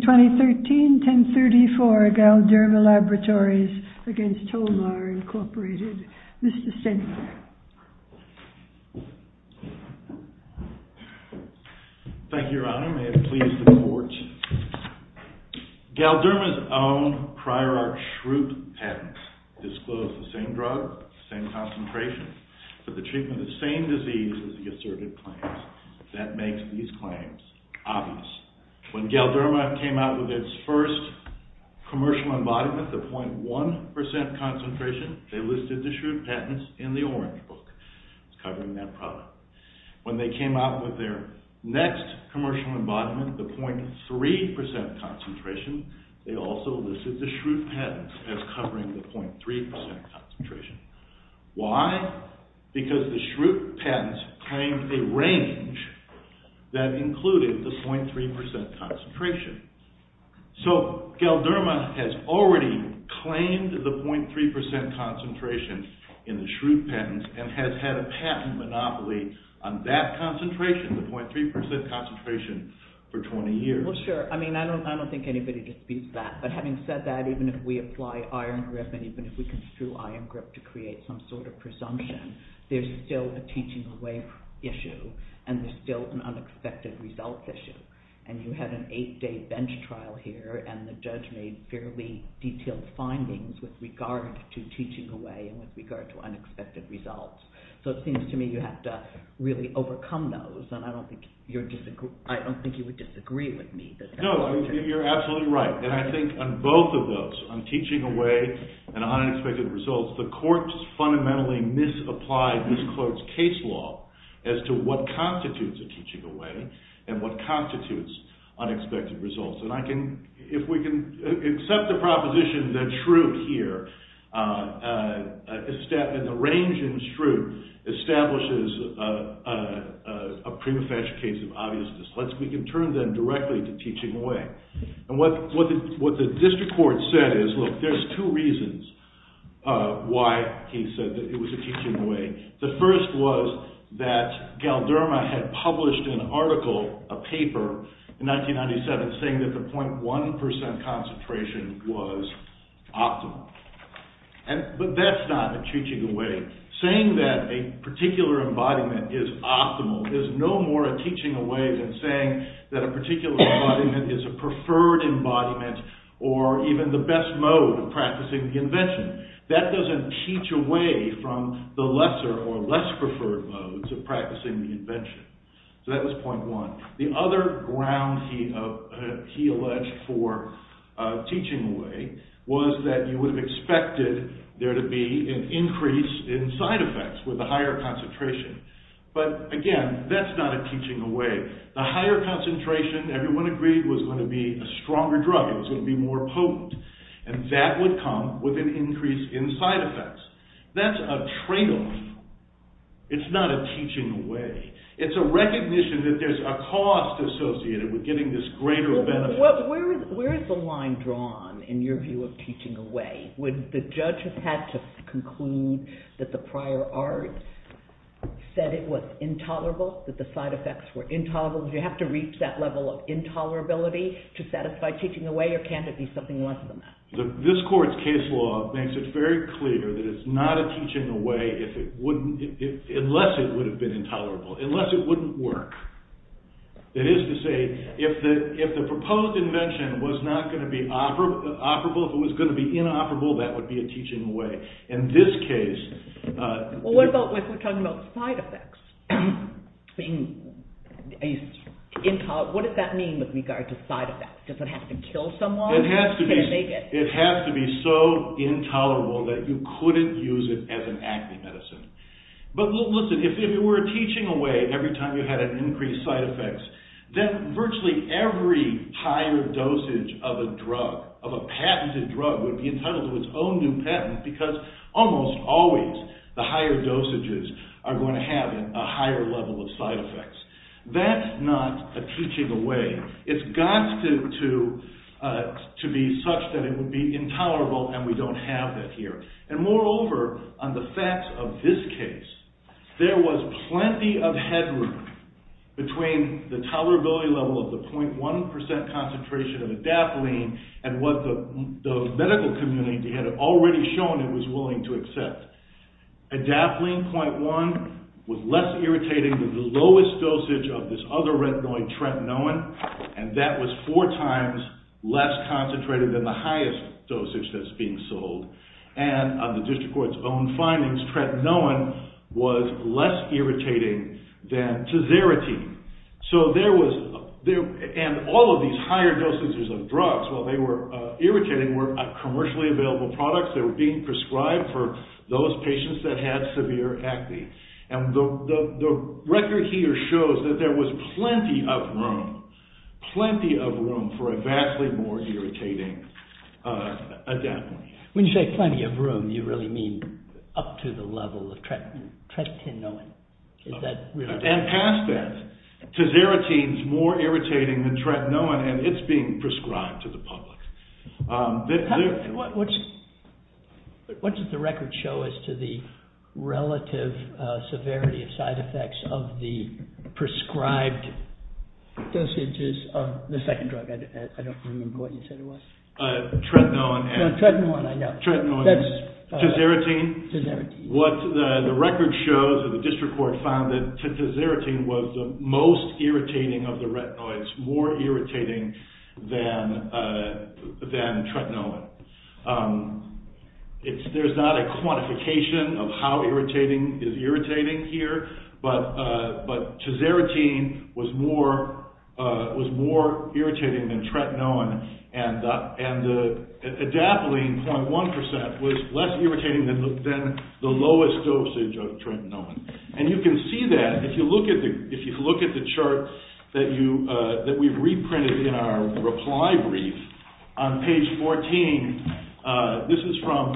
2013 1034 GALDERMA LABS v. TOLMAR INC Mr. Stenberg Thank you, Your Honor. May it please the Court. GALDERMA's own Prior Art Schrute patent disclosed the same drug, the same concentration, but the treatment of the same disease as the asserted claims. That makes these claims obvious. When GALDERMA came out with its first commercial embodiment, the .1% concentration, they listed the Schrute patents in the orange book covering that product. When they came out with their next commercial embodiment, the .3% concentration, they also listed the Schrute patents as covering the .3% concentration. Why? Because the Schrute patents claimed a range that included the .3% concentration. So, GALDERMA has already claimed the .3% concentration in the Schrute patents and has had a patent monopoly on that concentration, the .3% concentration, for 20 years. Well, sure. I mean, I don't think anybody disputes that. But having said that, even if we apply iron grip and even if we construe iron grip to create some sort of presumption, there's still a teaching away issue and there's still an unexpected results issue. And you had an eight-day bench trial here and the judge made fairly detailed findings with regard to teaching away and with regard to unexpected results. So, it seems to me you have to really overcome those and I don't think you would disagree with me. No, you're absolutely right. And I think on both of those, on teaching away and on unexpected results, the courts fundamentally misapply this court's case law as to what constitutes a teaching away and what constitutes unexpected results. And if we can accept the proposition that Schrute here, the range in Schrute, establishes a prima facie case of obviousness, we can turn then directly to teaching away. And what the district court said is, look, there's two reasons why he said that it was a teaching away. The first was that Galderma had published an article, a paper, in 1997 saying that the .1% concentration was optimal. But that's not a teaching away. Saying that a particular embodiment is optimal is no more a teaching away than saying that a particular embodiment is a preferred embodiment or even the best mode of practicing the invention. That doesn't teach away from the lesser or less preferred modes of practicing the invention. So, that was point one. The other ground he alleged for teaching away was that you would have expected there to be an increase in side effects with the higher concentration. But, again, that's not a teaching away. The higher concentration, everyone agreed, was going to be a stronger drug. It was going to be more potent. And that would come with an increase in side effects. That's a trade-off. It's not a teaching away. It's a recognition that there's a cost associated with getting this greater benefit. Where is the line drawn in your view of teaching away? Would the judge have had to conclude that the prior art said it was intolerable, that the side effects were intolerable? Do you have to reach that level of intolerability to satisfy teaching away, or can't it be something less than that? This court's case law makes it very clear that it's not a teaching away unless it would have been intolerable, unless it wouldn't work. That is to say, if the proposed invention was not going to be operable, if it was going to be inoperable, that would be a teaching away. In this case... Well, what about if we're talking about side effects? What does that mean with regard to side effects? Does it have to kill someone? It has to be so intolerable that you couldn't use it as an acne medicine. But listen, if it were a teaching away every time you had an increased side effect, then virtually every higher dosage of a drug, of a patented drug, would be entitled to its own new patent because almost always the higher dosages are going to have a higher level of side effects. That's not a teaching away. It's got to be such that it would be intolerable, and we don't have that here. And moreover, on the facts of this case, there was plenty of headroom between the tolerability level of the 0.1% concentration of adapalene and what the medical community had already shown it was willing to accept. Adapalene 0.1 was less irritating than the lowest dosage of this other retinoid, tretinoin, and that was four times less concentrated than the highest dosage that's being sold. And on the district court's own findings, tretinoin was less irritating than Tizerity. And all of these higher dosages of drugs, while they were irritating, were commercially available products that were being prescribed for those patients that had severe acne. And the record here shows that there was plenty of room, plenty of room for a vastly more irritating adapalene. When you say plenty of room, you really mean up to the level of tretinoin. Is that really? And past that, Tizerity is more irritating than tretinoin and it's being prescribed to the public. What does the record show as to the relative severity of side effects of the prescribed dosages of the second drug? I don't remember what you said it was. Tretinoin. Tretinoin, I know. Tizerity. Tizerity. What the record shows, or the district court found, that Tizerity was the most irritating of the retinoids, more irritating than tretinoin. There's not a quantification of how irritating is irritating here, but Tizerity was more irritating than tretinoin and the adapalene, 0.1%, was less irritating than the lowest dosage of tretinoin. And you can see that, if you look at the chart that we've reprinted in our reply brief, on page 14, this is from,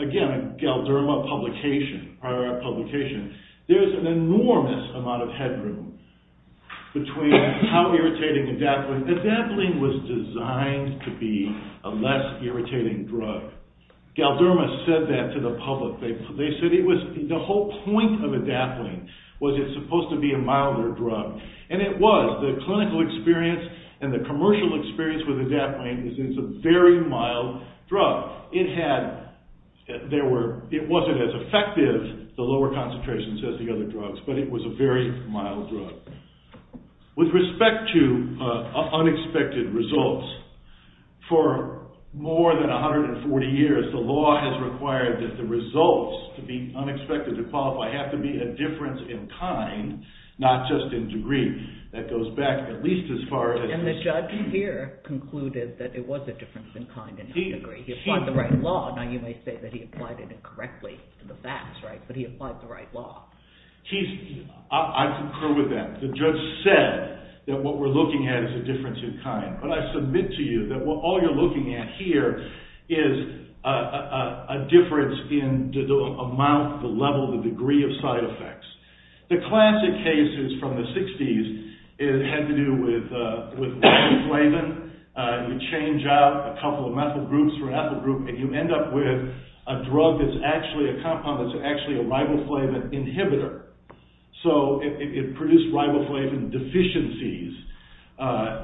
again, a Galderma publication, prior publication. There's an enormous amount of headroom between how irritating adapalene, adapalene was designed to be a less irritating drug. Galderma said that to the public. They said it was, the whole point of adapalene was it's supposed to be a milder drug. And it was. The clinical experience and the commercial experience with adapalene is it's a very mild drug. It had, there were, it wasn't as effective, the lower concentrations as the other drugs, but it was a very mild drug. With respect to unexpected results, for more than 140 years, the law has required that the results to be unexpected, to qualify, have to be a difference in kind, not just in degree. That goes back at least as far as… And the judge here concluded that it was a difference in kind and not degree. He applied the right law. Now, you may say that he applied it incorrectly in the facts, right, but he applied the right law. I concur with that. The judge said that what we're looking at is a difference in kind, but I submit to you that all you're looking at here is a difference in the amount, the level, the degree of side effects. The classic cases from the 60s had to do with riboflavin. You change out a couple of methyl groups for an ethyl group, and you end up with a drug that's actually a compound that's actually a riboflavin inhibitor. So, it produced riboflavin deficiencies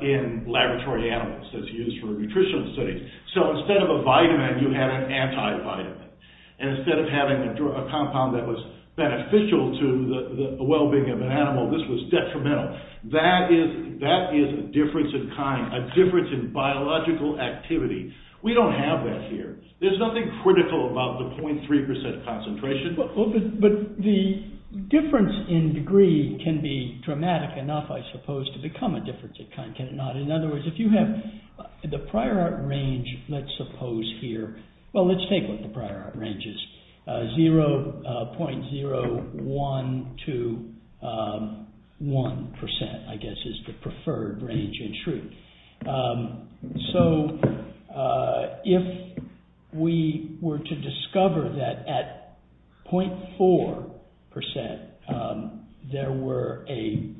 in laboratory animals that's used for nutritional studies. So, instead of a vitamin, you had an antivitamin. And instead of having a compound that was beneficial to the well-being of an animal, this was detrimental. That is a difference in kind, a difference in biological activity. We don't have that here. There's nothing critical about the 0.3% concentration. But the difference in degree can be dramatic enough, I suppose, to become a difference in kind, can it not? In other words, if you have the prior art range, let's suppose here. Well, let's take what the prior art range is. 0.01 to 1%, I guess, is the preferred range in shrew. So, if we were to discover that at 0.4% there were a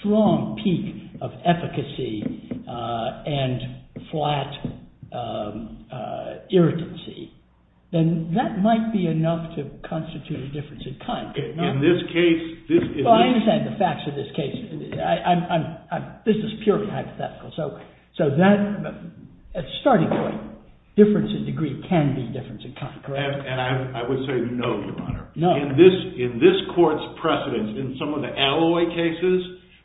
strong peak of efficacy and flat irritancy, then that might be enough to constitute a difference in kind. Well, I understand the facts of this case. This is purely hypothetical. So, at starting point, difference in degree can be difference in kind, correct? And I would say no, Your Honor. No. In this court's precedence, in some of the alloy cases,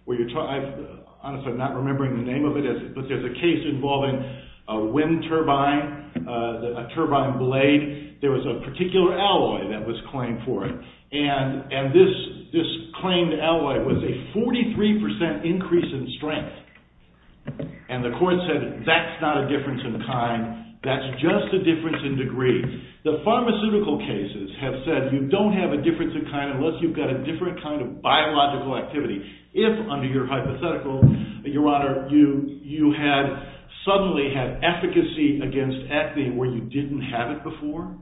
I'm honestly not remembering the name of it. But there's a case involving a wind turbine, a turbine blade. There was a particular alloy that was claimed for it. And this claimed alloy was a 43% increase in strength. And the court said that's not a difference in kind. That's just a difference in degree. The pharmaceutical cases have said you don't have a difference in kind unless you've got a different kind of biological activity. If, under your hypothetical, Your Honor, you had suddenly had efficacy against ethane where you didn't have it before,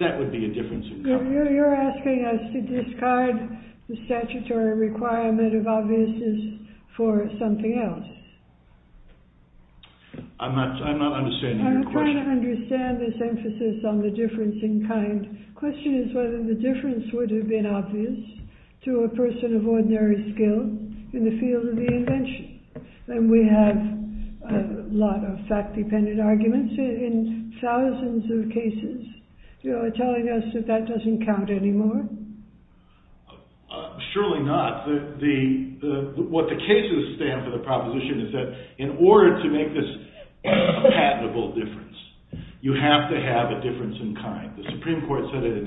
that would be a difference in degree. You're asking us to discard the statutory requirement of obviousness for something else. I'm not understanding your question. I'm trying to understand this emphasis on the difference in kind. The question is whether the difference would have been obvious to a person of ordinary skill in the field of the invention. And we have a lot of fact-dependent arguments in thousands of cases. You're telling us that that doesn't count anymore? Surely not. What the cases stand for, the proposition, is that in order to make this a patentable difference, you have to have a difference in kind. The Supreme Court said it in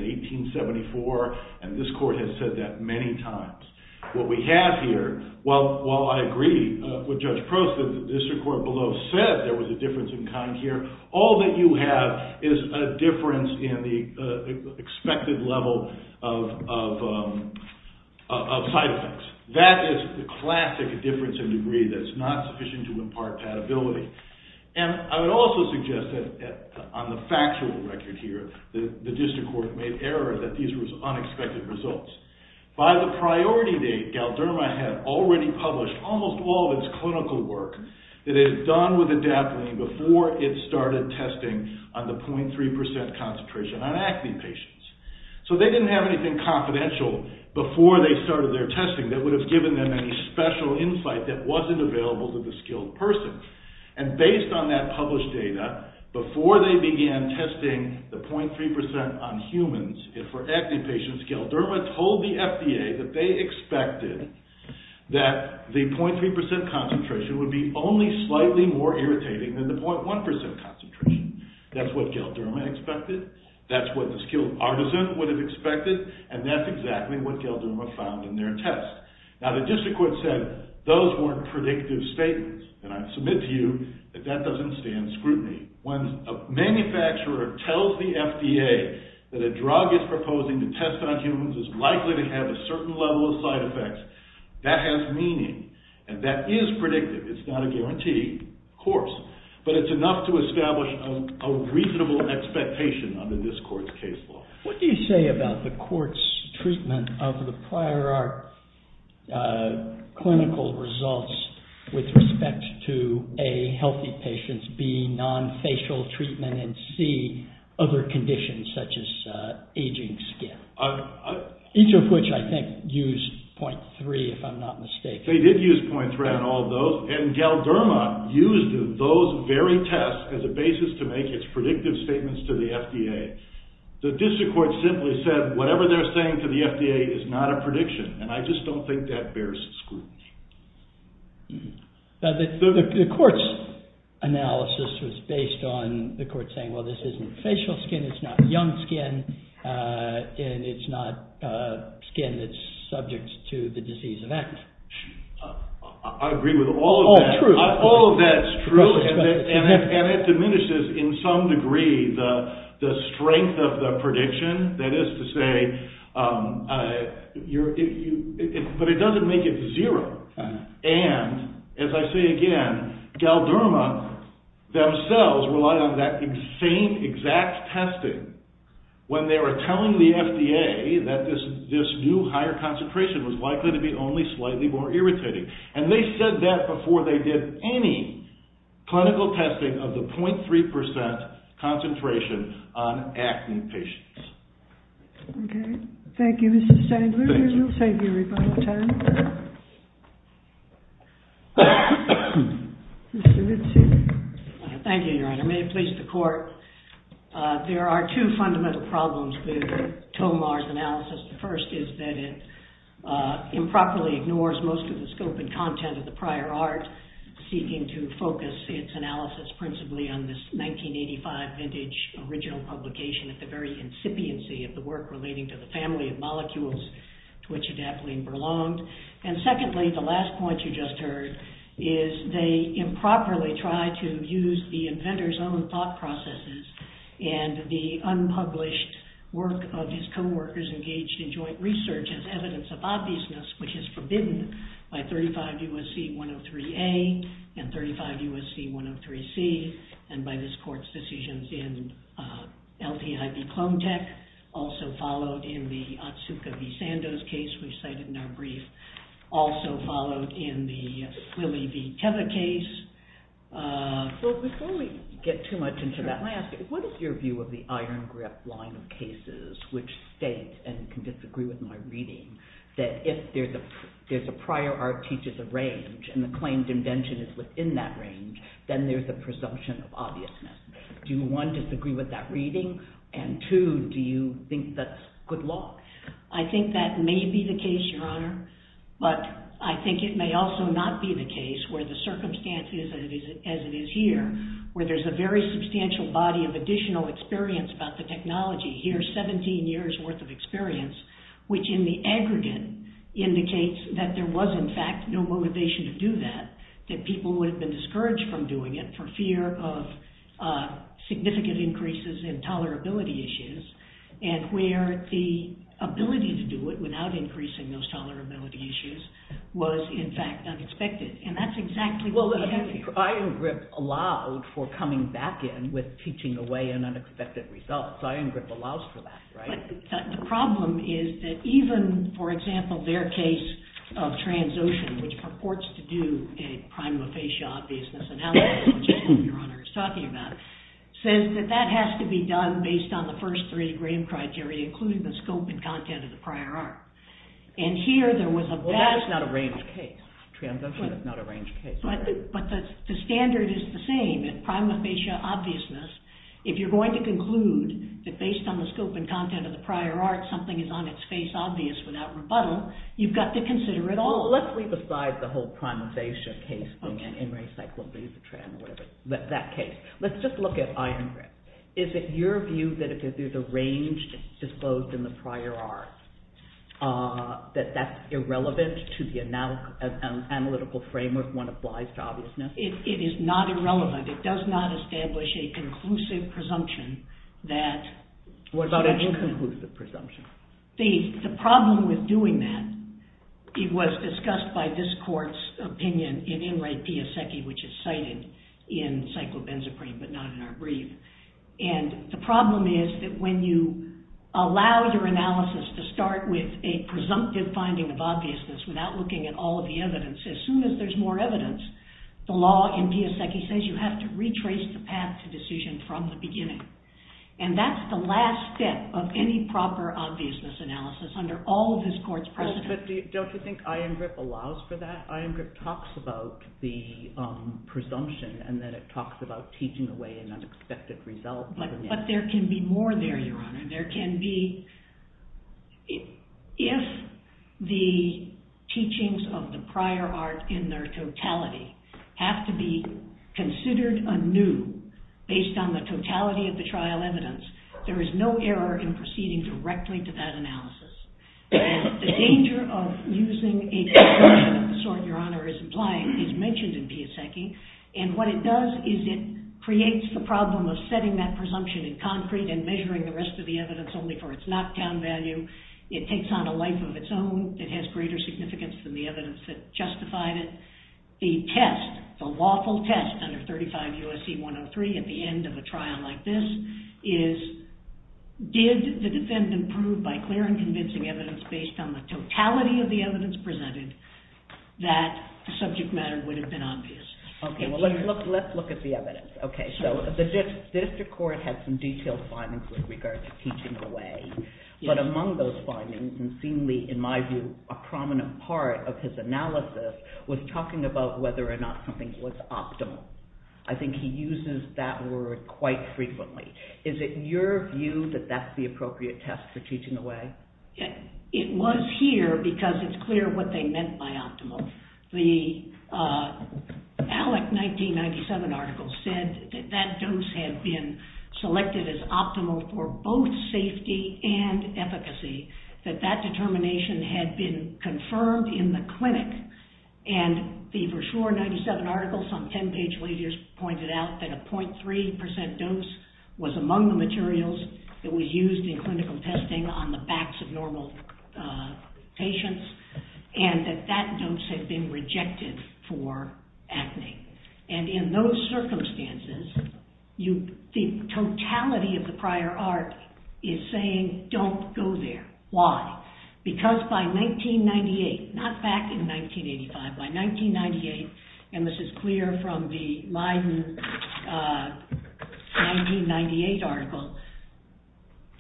1874, and this court has said that many times. What we have here, while I agree with Judge Prost that the district court below said there was a difference in kind here, all that you have is a difference in the expected level of side effects. That is the classic difference in degree that's not sufficient to impart patentability. And I would also suggest that on the factual record here, the district court made error that these were unexpected results. By the priority date, Galderma had already published almost all of its clinical work that it had done with adapalene before it started testing on the 0.3% concentration on acne patients. So they didn't have anything confidential before they started their testing that would have given them any special insight that wasn't available to the skilled person. And based on that published data, before they began testing the 0.3% on humans for acne patients, Galderma told the FDA that they expected that the 0.3% concentration would be only slightly more irritating than the 0.1% concentration. That's what Galderma expected, that's what the skilled artisan would have expected, and that's exactly what Galderma found in their test. Now, the district court said those weren't predictive statements, and I submit to you that that doesn't stand scrutiny. When a manufacturer tells the FDA that a drug it's proposing to test on humans is likely to have a certain level of side effects, that has meaning, and that is predictive. It's not a guarantee, of course, but it's enough to establish a reasonable expectation under this court's case law. What do you say about the court's treatment of the prior art clinical results with respect to, A, healthy patients, B, non-facial treatment, and C, other conditions such as aging skin? Each of which I think used 0.3% if I'm not mistaken. They did use 0.3% on all of those, and Galderma used those very tests as a basis to make its predictive statements to the FDA. The district court simply said, whatever they're saying to the FDA is not a prediction, and I just don't think that bears scrutiny. The court's analysis was based on the court saying, well, this isn't facial skin, it's not young skin, and it's not skin that's subject to the disease of acne. I agree with all of that. All of that is true, and it diminishes in some degree the strength of the prediction, that is to say, but it doesn't make it zero. And, as I say again, Galderma themselves relied on that same exact testing when they were telling the FDA that this new higher concentration was likely to be only slightly more irritating. And they said that before they did any clinical testing of the 0.3% concentration on acne patients. Okay. Thank you, Mr. Sandler. We will save you a little time. Thank you, Your Honor. May it please the court, there are two fundamental problems with Tomar's analysis. The first is that it improperly ignores most of the scope and content of the prior art, seeking to focus its analysis principally on this 1985 vintage original publication at the very incipiency of the work relating to the family of molecules to which adapalene belonged. And secondly, the last point you just heard, is they improperly try to use the inventor's own thought processes and the unpublished work of his co-workers engaged in joint research as evidence of obviousness, which is forbidden by 35 U.S.C. 103A and 35 U.S.C. 103C, and by this court's decisions in LTIB Clonetech. Also followed in the Otsuka v. Sandoz case we cited in our brief. Also followed in the Willey v. Tether case. So before we get too much into that, may I ask, what is your view of the iron grip line of cases which state, and you can disagree with my reading, that if there's a prior art teaches a range and the claimed invention is within that range, then there's a presumption of obviousness. Do you, one, disagree with that reading, and two, do you think that's good law? I think that may be the case, Your Honor, but I think it may also not be the case where the circumstances as it is here, where there's a very substantial body of additional experience about the technology. Here's 17 years' worth of experience, which in the aggregate indicates that there was, in fact, no motivation to do that, that people would have been discouraged from doing it for fear of significant increases in tolerability issues, and where the ability to do it without increasing those tolerability issues was, in fact, unexpected, and that's exactly what we have here. Iron grip allowed for coming back in with teaching away an unexpected result. Iron grip allows for that, right? The problem is that even, for example, their case of trans-ocean, which purports to do a prime of facial obviousness analysis, which is what Your Honor is talking about, says that that has to be done based on the first three Graham criteria, including the scope and content of the prior art. And here there was a bad… Well, that is not a range case. Trans-ocean is not a range case. But the standard is the same. At prime of facial obviousness, if you're going to conclude that based on the scope and content of the prior art, something is on its face obvious without rebuttal, you've got to consider it all. Let's leave aside the whole prime of facial case thing and recycle it. Let's just look at iron grip. Is it your view that if there's a range disclosed in the prior art, that that's irrelevant to the analytical framework when it applies to obviousness? It is not irrelevant. It does not establish a conclusive presumption that… What about an inconclusive presumption? The problem with doing that, it was discussed by this court's opinion in Enright Piasecki, which is cited in Psychobenzaprine, but not in our brief. And the problem is that when you allow your analysis to start with a presumptive finding of obviousness without looking at all of the evidence, as soon as there's more evidence, the law in Piasecki says you have to retrace the path to decision from the beginning. And that's the last step of any proper obviousness analysis under all of this court's precedent. But don't you think iron grip allows for that? Iron grip talks about the presumption and then it talks about teaching away an unexpected result. But there can be more there, Your Honor. There can be… If the teachings of the prior art in their totality have to be considered anew based on the totality of the trial evidence, there is no error in proceeding directly to that analysis. The danger of using a presumption of the sort Your Honor is implying is mentioned in Piasecki. And what it does is it creates the problem of setting that presumption in concrete and measuring the rest of the evidence only for its knockdown value. It takes on a life of its own that has greater significance than the evidence that justified it. The test, the lawful test under 35 U.S.C. 103 at the end of a trial like this is did the defendant prove by clear and convincing evidence based on the totality of the evidence presented that the subject matter would have been obvious. Okay, well let's look at the evidence. Okay, so the district court had some detailed findings with regard to teaching away. But among those findings and seemingly in my view a prominent part of his analysis was talking about whether or not something was optimal. I think he uses that word quite frequently. Is it your view that that's the appropriate test for teaching away? It was here because it's clear what they meant by optimal. The ALEC 1997 article said that that dose had been selected as optimal for both safety and efficacy, that that determination had been confirmed in the clinic. And the Verschuur 1997 article some 10 page later pointed out that a .3% dose was among the materials that was used in clinical testing on the backs of normal patients and that that dose had been rejected for acne. And in those circumstances, the totality of the prior art is saying don't go there. Why? Because by 1998, not back in 1985, by 1998, and this is clear from the Leiden 1998 article,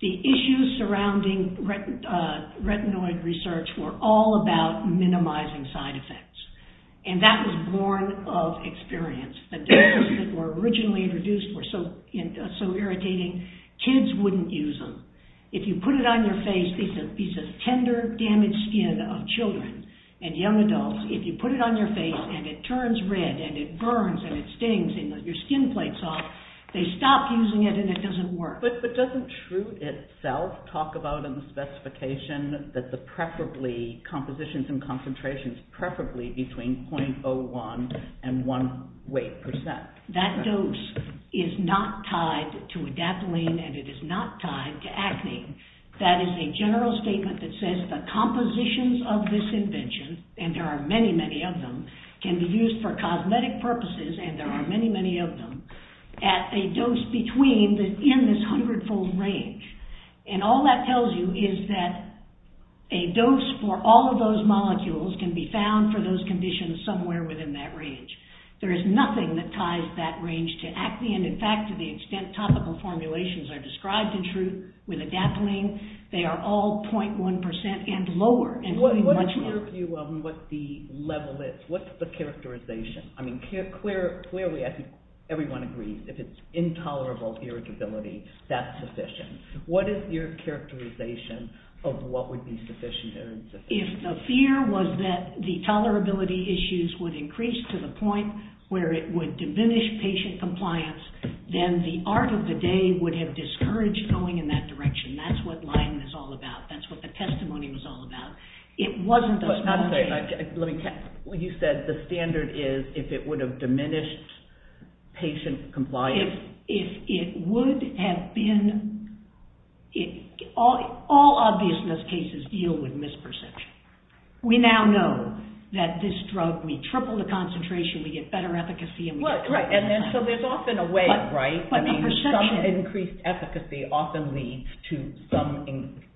the issues surrounding retinoid research were all about minimizing side effects. And that was born of experience. The doses that were originally introduced were so irritating, kids wouldn't use them. If you put it on your face, these are tender damaged skin of children and young adults, if you put it on your face and it turns red and it burns and it stings and your skin plates off, they stop using it and it doesn't work. But doesn't Schrute itself talk about in the specification that the preferably, compositions and concentrations, preferably between .01 and 1 weight percent? That dose is not tied to adapalene and it is not tied to acne. That is a general statement that says the compositions of this invention, and there are many, many of them, can be used for cosmetic purposes, and there are many, many of them, at a dose between, in this hundred fold range. And all that tells you is that a dose for all of those molecules can be found for those conditions somewhere within that range. There is nothing that ties that range to acne. And in fact, to the extent topical formulations are described in Schrute with adapalene, they are all .1 percent and lower. What's your view on what the level is? What's the characterization? I mean, clearly, I think everyone agrees, if it's intolerable irritability, that's sufficient. What is your characterization of what would be sufficient or insufficient? If the fear was that the tolerability issues would increase to the point where it would diminish patient compliance, then the art of the day would have discouraged going in that direction. That's what Lyman is all about. That's what the testimony was all about. It wasn't those small changes. You said the standard is if it would have diminished patient compliance. If it would have been... All obviousness cases deal with misperception. We now know that this drug, we triple the concentration, we get better efficacy... Right, and so there's often a way, right? Increased efficacy often leads to some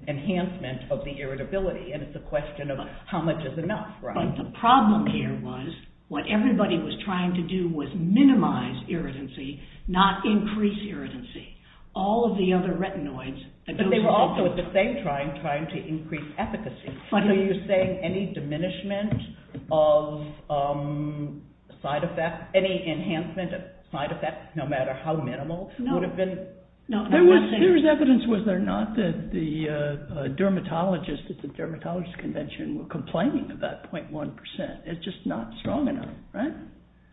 enhancement of the irritability. And it's a question of how much is enough, right? But the problem here was what everybody was trying to do was minimize irritancy, not increase irritancy. All of the other retinoids... But they were also at the same time trying to increase efficacy. Are you saying any diminishment of side effects, any enhancement of side effects, no matter how minimal, would have been... There was evidence, was there not, that the dermatologists at the Dermatologists' Convention were complaining about .1%. It's just not strong enough, right?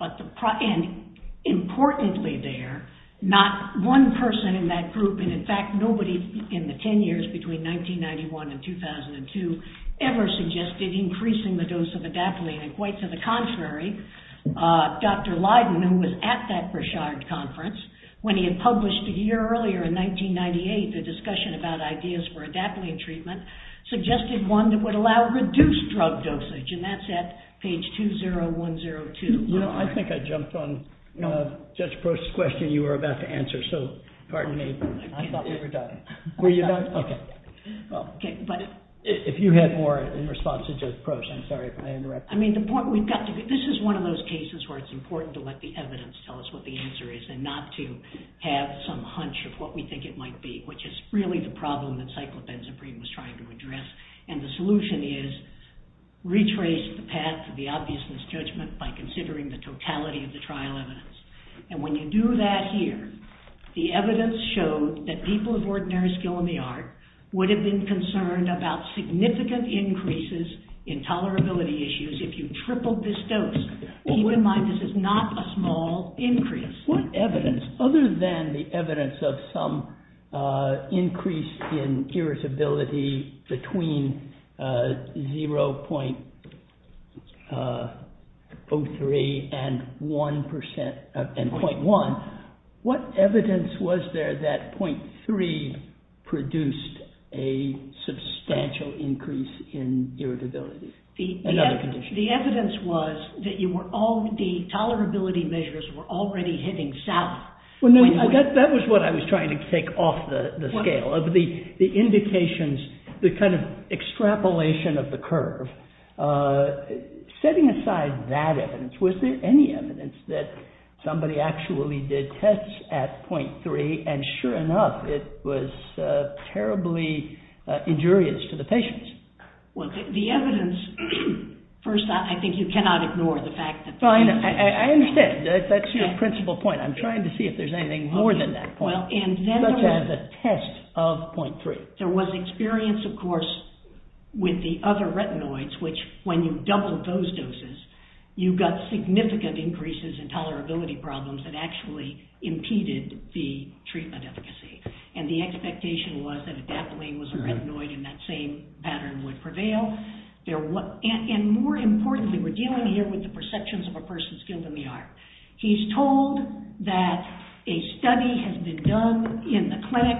And importantly there, not one person in that group, and in fact nobody in the 10 years between 1991 and 2002, ever suggested increasing the dose of adapalene. And quite to the contrary, Dr. Lydon, who was at that Bruchard Conference, when he had published a year earlier in 1998, a discussion about ideas for adapalene treatment, suggested one that would allow reduced drug dosage. And that's at page 20102. Well, I think I jumped on Judge Proch's question you were about to answer, so pardon me. I thought we were done. Were you not? Okay. If you had more in response to Judge Proch, I'm sorry if I interrupted you. I mean, this is one of those cases where it's important to let the evidence tell us what the answer is, and not to have some hunch of what we think it might be, which is really the problem that Cyclopenzaprine was trying to address. And the solution is, retrace the path of the obviousness judgment by considering the totality of the trial evidence. And when you do that here, the evidence showed that people of ordinary skill in the art would have been concerned about significant increases in tolerability issues if you tripled this dose. Keep in mind this is not a small increase. What evidence, other than the evidence of some increase in irritability between 0.03 and 0.1, what evidence was there that 0.3 produced a substantial increase in irritability? The evidence was that the tolerability measures were already hitting south. That was what I was trying to take off the scale, of the indications, the kind of extrapolation of the curve. Setting aside that evidence, was there any evidence that somebody actually did tests at 0.3 and sure enough, it was terribly injurious to the patients? The evidence, first off, I think you cannot ignore the fact that... I understand. That's your principal point. I'm trying to see if there's anything more than that point, such as a test of 0.3. There was experience, of course, with the other retinoids, which when you doubled those doses, you got significant increases in tolerability problems that actually impeded the treatment efficacy. And the expectation was that a dapolene was a retinoid and that same pattern would prevail. And more importantly, we're dealing here with the perceptions of a person's skill in the art. He's told that a study has been done in the clinic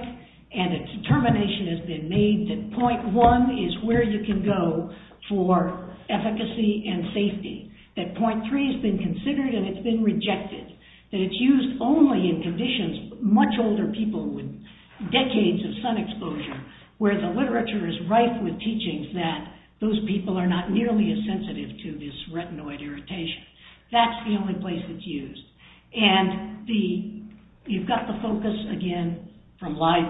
and a determination has been made that 0.1 is where you can go for efficacy and safety. That 0.3 has been considered and it's been rejected. That it's used only in conditions, much older people with decades of sun exposure, where the literature is rife with teachings that those people are not nearly as sensitive to this retinoid irritation. That's the only place it's used. And you've got the focus, again, from life.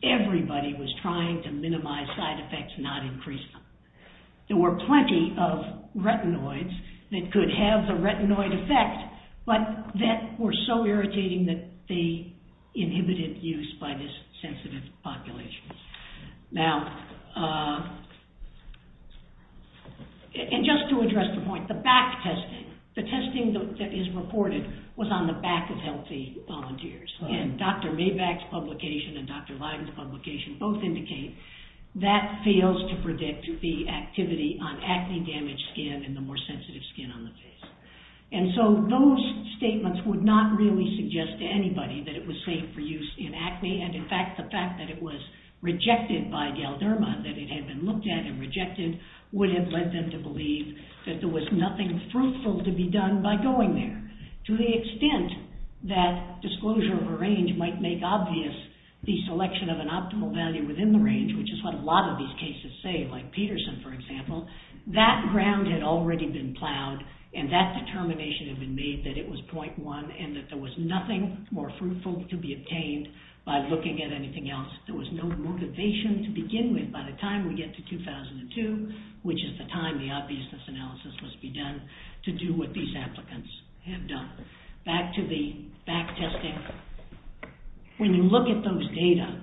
Everybody was trying to minimize side effects, not increase them. There were plenty of retinoids that could have the retinoid effect, but that were so irritating that they inhibited use by this sensitive population. Now, and just to address the point, the back testing, the testing that is reported was on the back of healthy volunteers. And Dr. Maybach's publication and Dr. Lyden's publication both indicate that fails to predict the activity on acne-damaged skin and the more sensitive skin on the face. And so those statements would not really suggest to anybody that it was safe for use in acne. And, in fact, the fact that it was rejected by Galderma, that it had been looked at and rejected, would have led them to believe that there was nothing fruitful to be done by going there. To the extent that disclosure of a range might make obvious the selection of an optimal value within the range, which is what a lot of these cases say, like Peterson, for example, that ground had already been plowed and that determination had been made that it was 0.1 and that there was nothing more fruitful to be obtained by looking at anything else. There was no motivation to begin with by the time we get to 2002, which is the time the obviousness analysis must be done to do what these applicants have done. Back to the back testing. When you look at those data,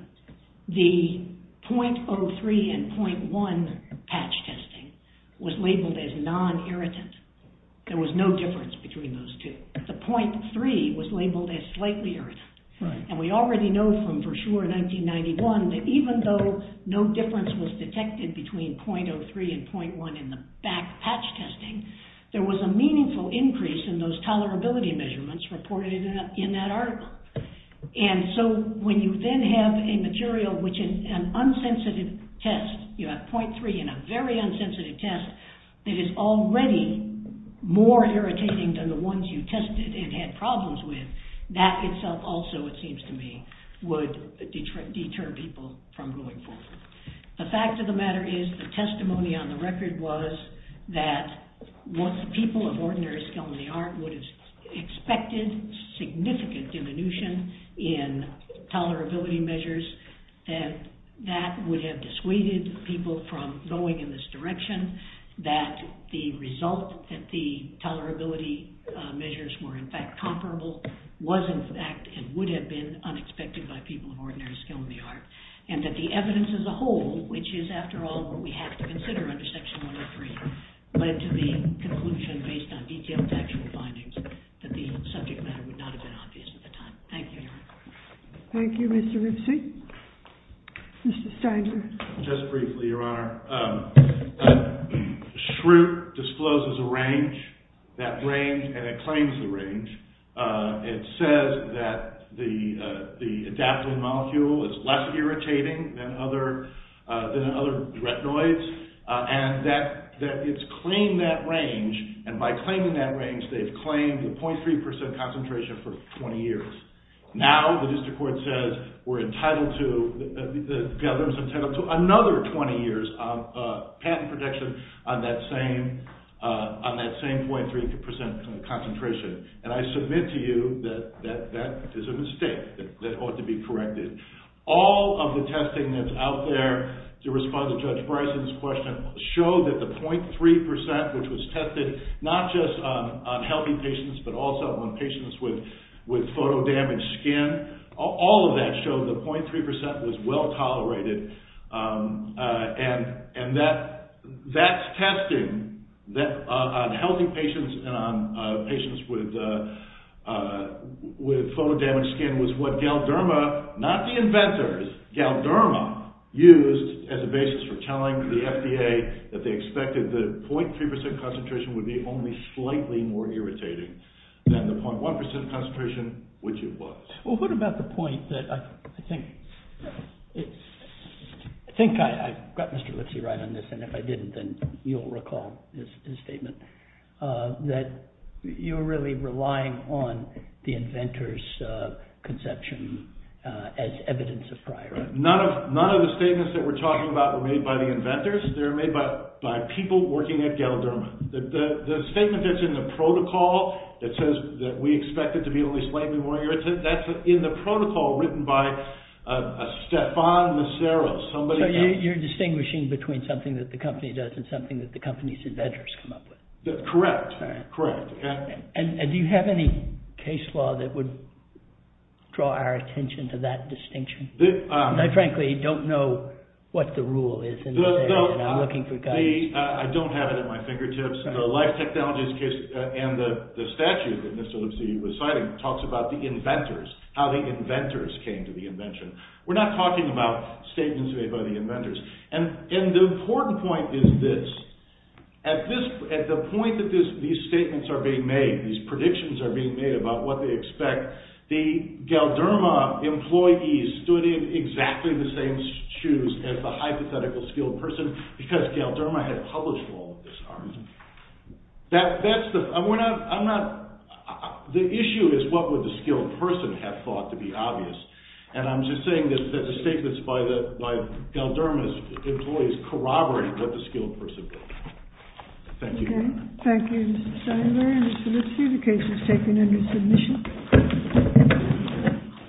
the 0.03 and 0.1 patch testing was labeled as non-irritant. There was no difference between those two. The 0.3 was labeled as slightly irritant. And we already know from Verschuur 1991 that even though no difference was detected between 0.03 and 0.1 in the back patch testing, there was a meaningful increase in those tolerability measurements reported in that article. And so when you then have a material which is an unsensitive test, you have 0.3 in a very unsensitive test, that is already more irritating than the ones you tested and had problems with, that itself also, it seems to me, would deter people from going forward. The fact of the matter is the testimony on the record was that people of ordinary skill in the art would have expected significant diminution in tolerability measures and that would have dissuaded people from going in this direction, that the result that the tolerability measures were in fact comparable was in fact and would have been unexpected by people of ordinary skill in the art. And that the evidence as a whole, which is after all what we have to consider under Section 103, led to the conclusion based on detailed factual findings that the subject matter would not have been obvious at the time. Thank you. Thank you, Mr. Ripson. Mr. Steiner. Just briefly, Your Honor. Schrute discloses a range, that range, and it claims the range. It says that the adaptin molecule is less irritating than other retinoids and that it's claimed that range, and by claiming that range they've claimed the 0.3% concentration for 20 years. Now the district court says we're entitled to, the government's entitled to another 20 years of patent protection on that same 0.3% concentration. And I submit to you that that is a mistake that ought to be corrected. All of the testing that's out there to respond to Judge Bryson's question showed that the 0.3% which was tested not just on healthy patients but also on patients with photo-damaged skin, all of that showed the 0.3% was well tolerated. And that testing on healthy patients and on patients with photo-damaged skin was what Galderma, not the inventors, Galderma used as a basis for telling the FDA that they expected that the 0.3% concentration would be only slightly more irritating than the 0.1% concentration which it was. Well what about the point that I think, I think I got Mr. Lipsy right on this and if I didn't then you'll recall his statement, that you're really relying on the inventors' conception as evidence of prior. None of the statements that we're talking about were made by the inventors. They were made by people working at Galderma. The statement that's in the protocol that says that we expect it to be only slightly more irritating, that's in the protocol written by a Stefan Macero. So you're distinguishing between something that the company does and something that the company's inventors come up with. Correct, correct. And do you have any case law that would draw our attention to that distinction? I frankly don't know what the rule is and I'm looking for guidance. I don't have it at my fingertips. The Life Technologies case and the statute that Mr. Lipsy was citing talks about the inventors, how the inventors came to the invention. We're not talking about statements made by the inventors. And the important point is this. At the point that these statements are being made, these predictions are being made about what they expect, the Galderma employees stood in exactly the same shoes as the hypothetical skilled person because Galderma had published all of this art. The issue is what would the skilled person have thought to be obvious. And I'm just saying that the statements by Galderma's employees corroborate what the skilled person did. Thank you. Thank you, Mr. Steinberg. Thank you, Mr. Lipsy. The case is taken under submission.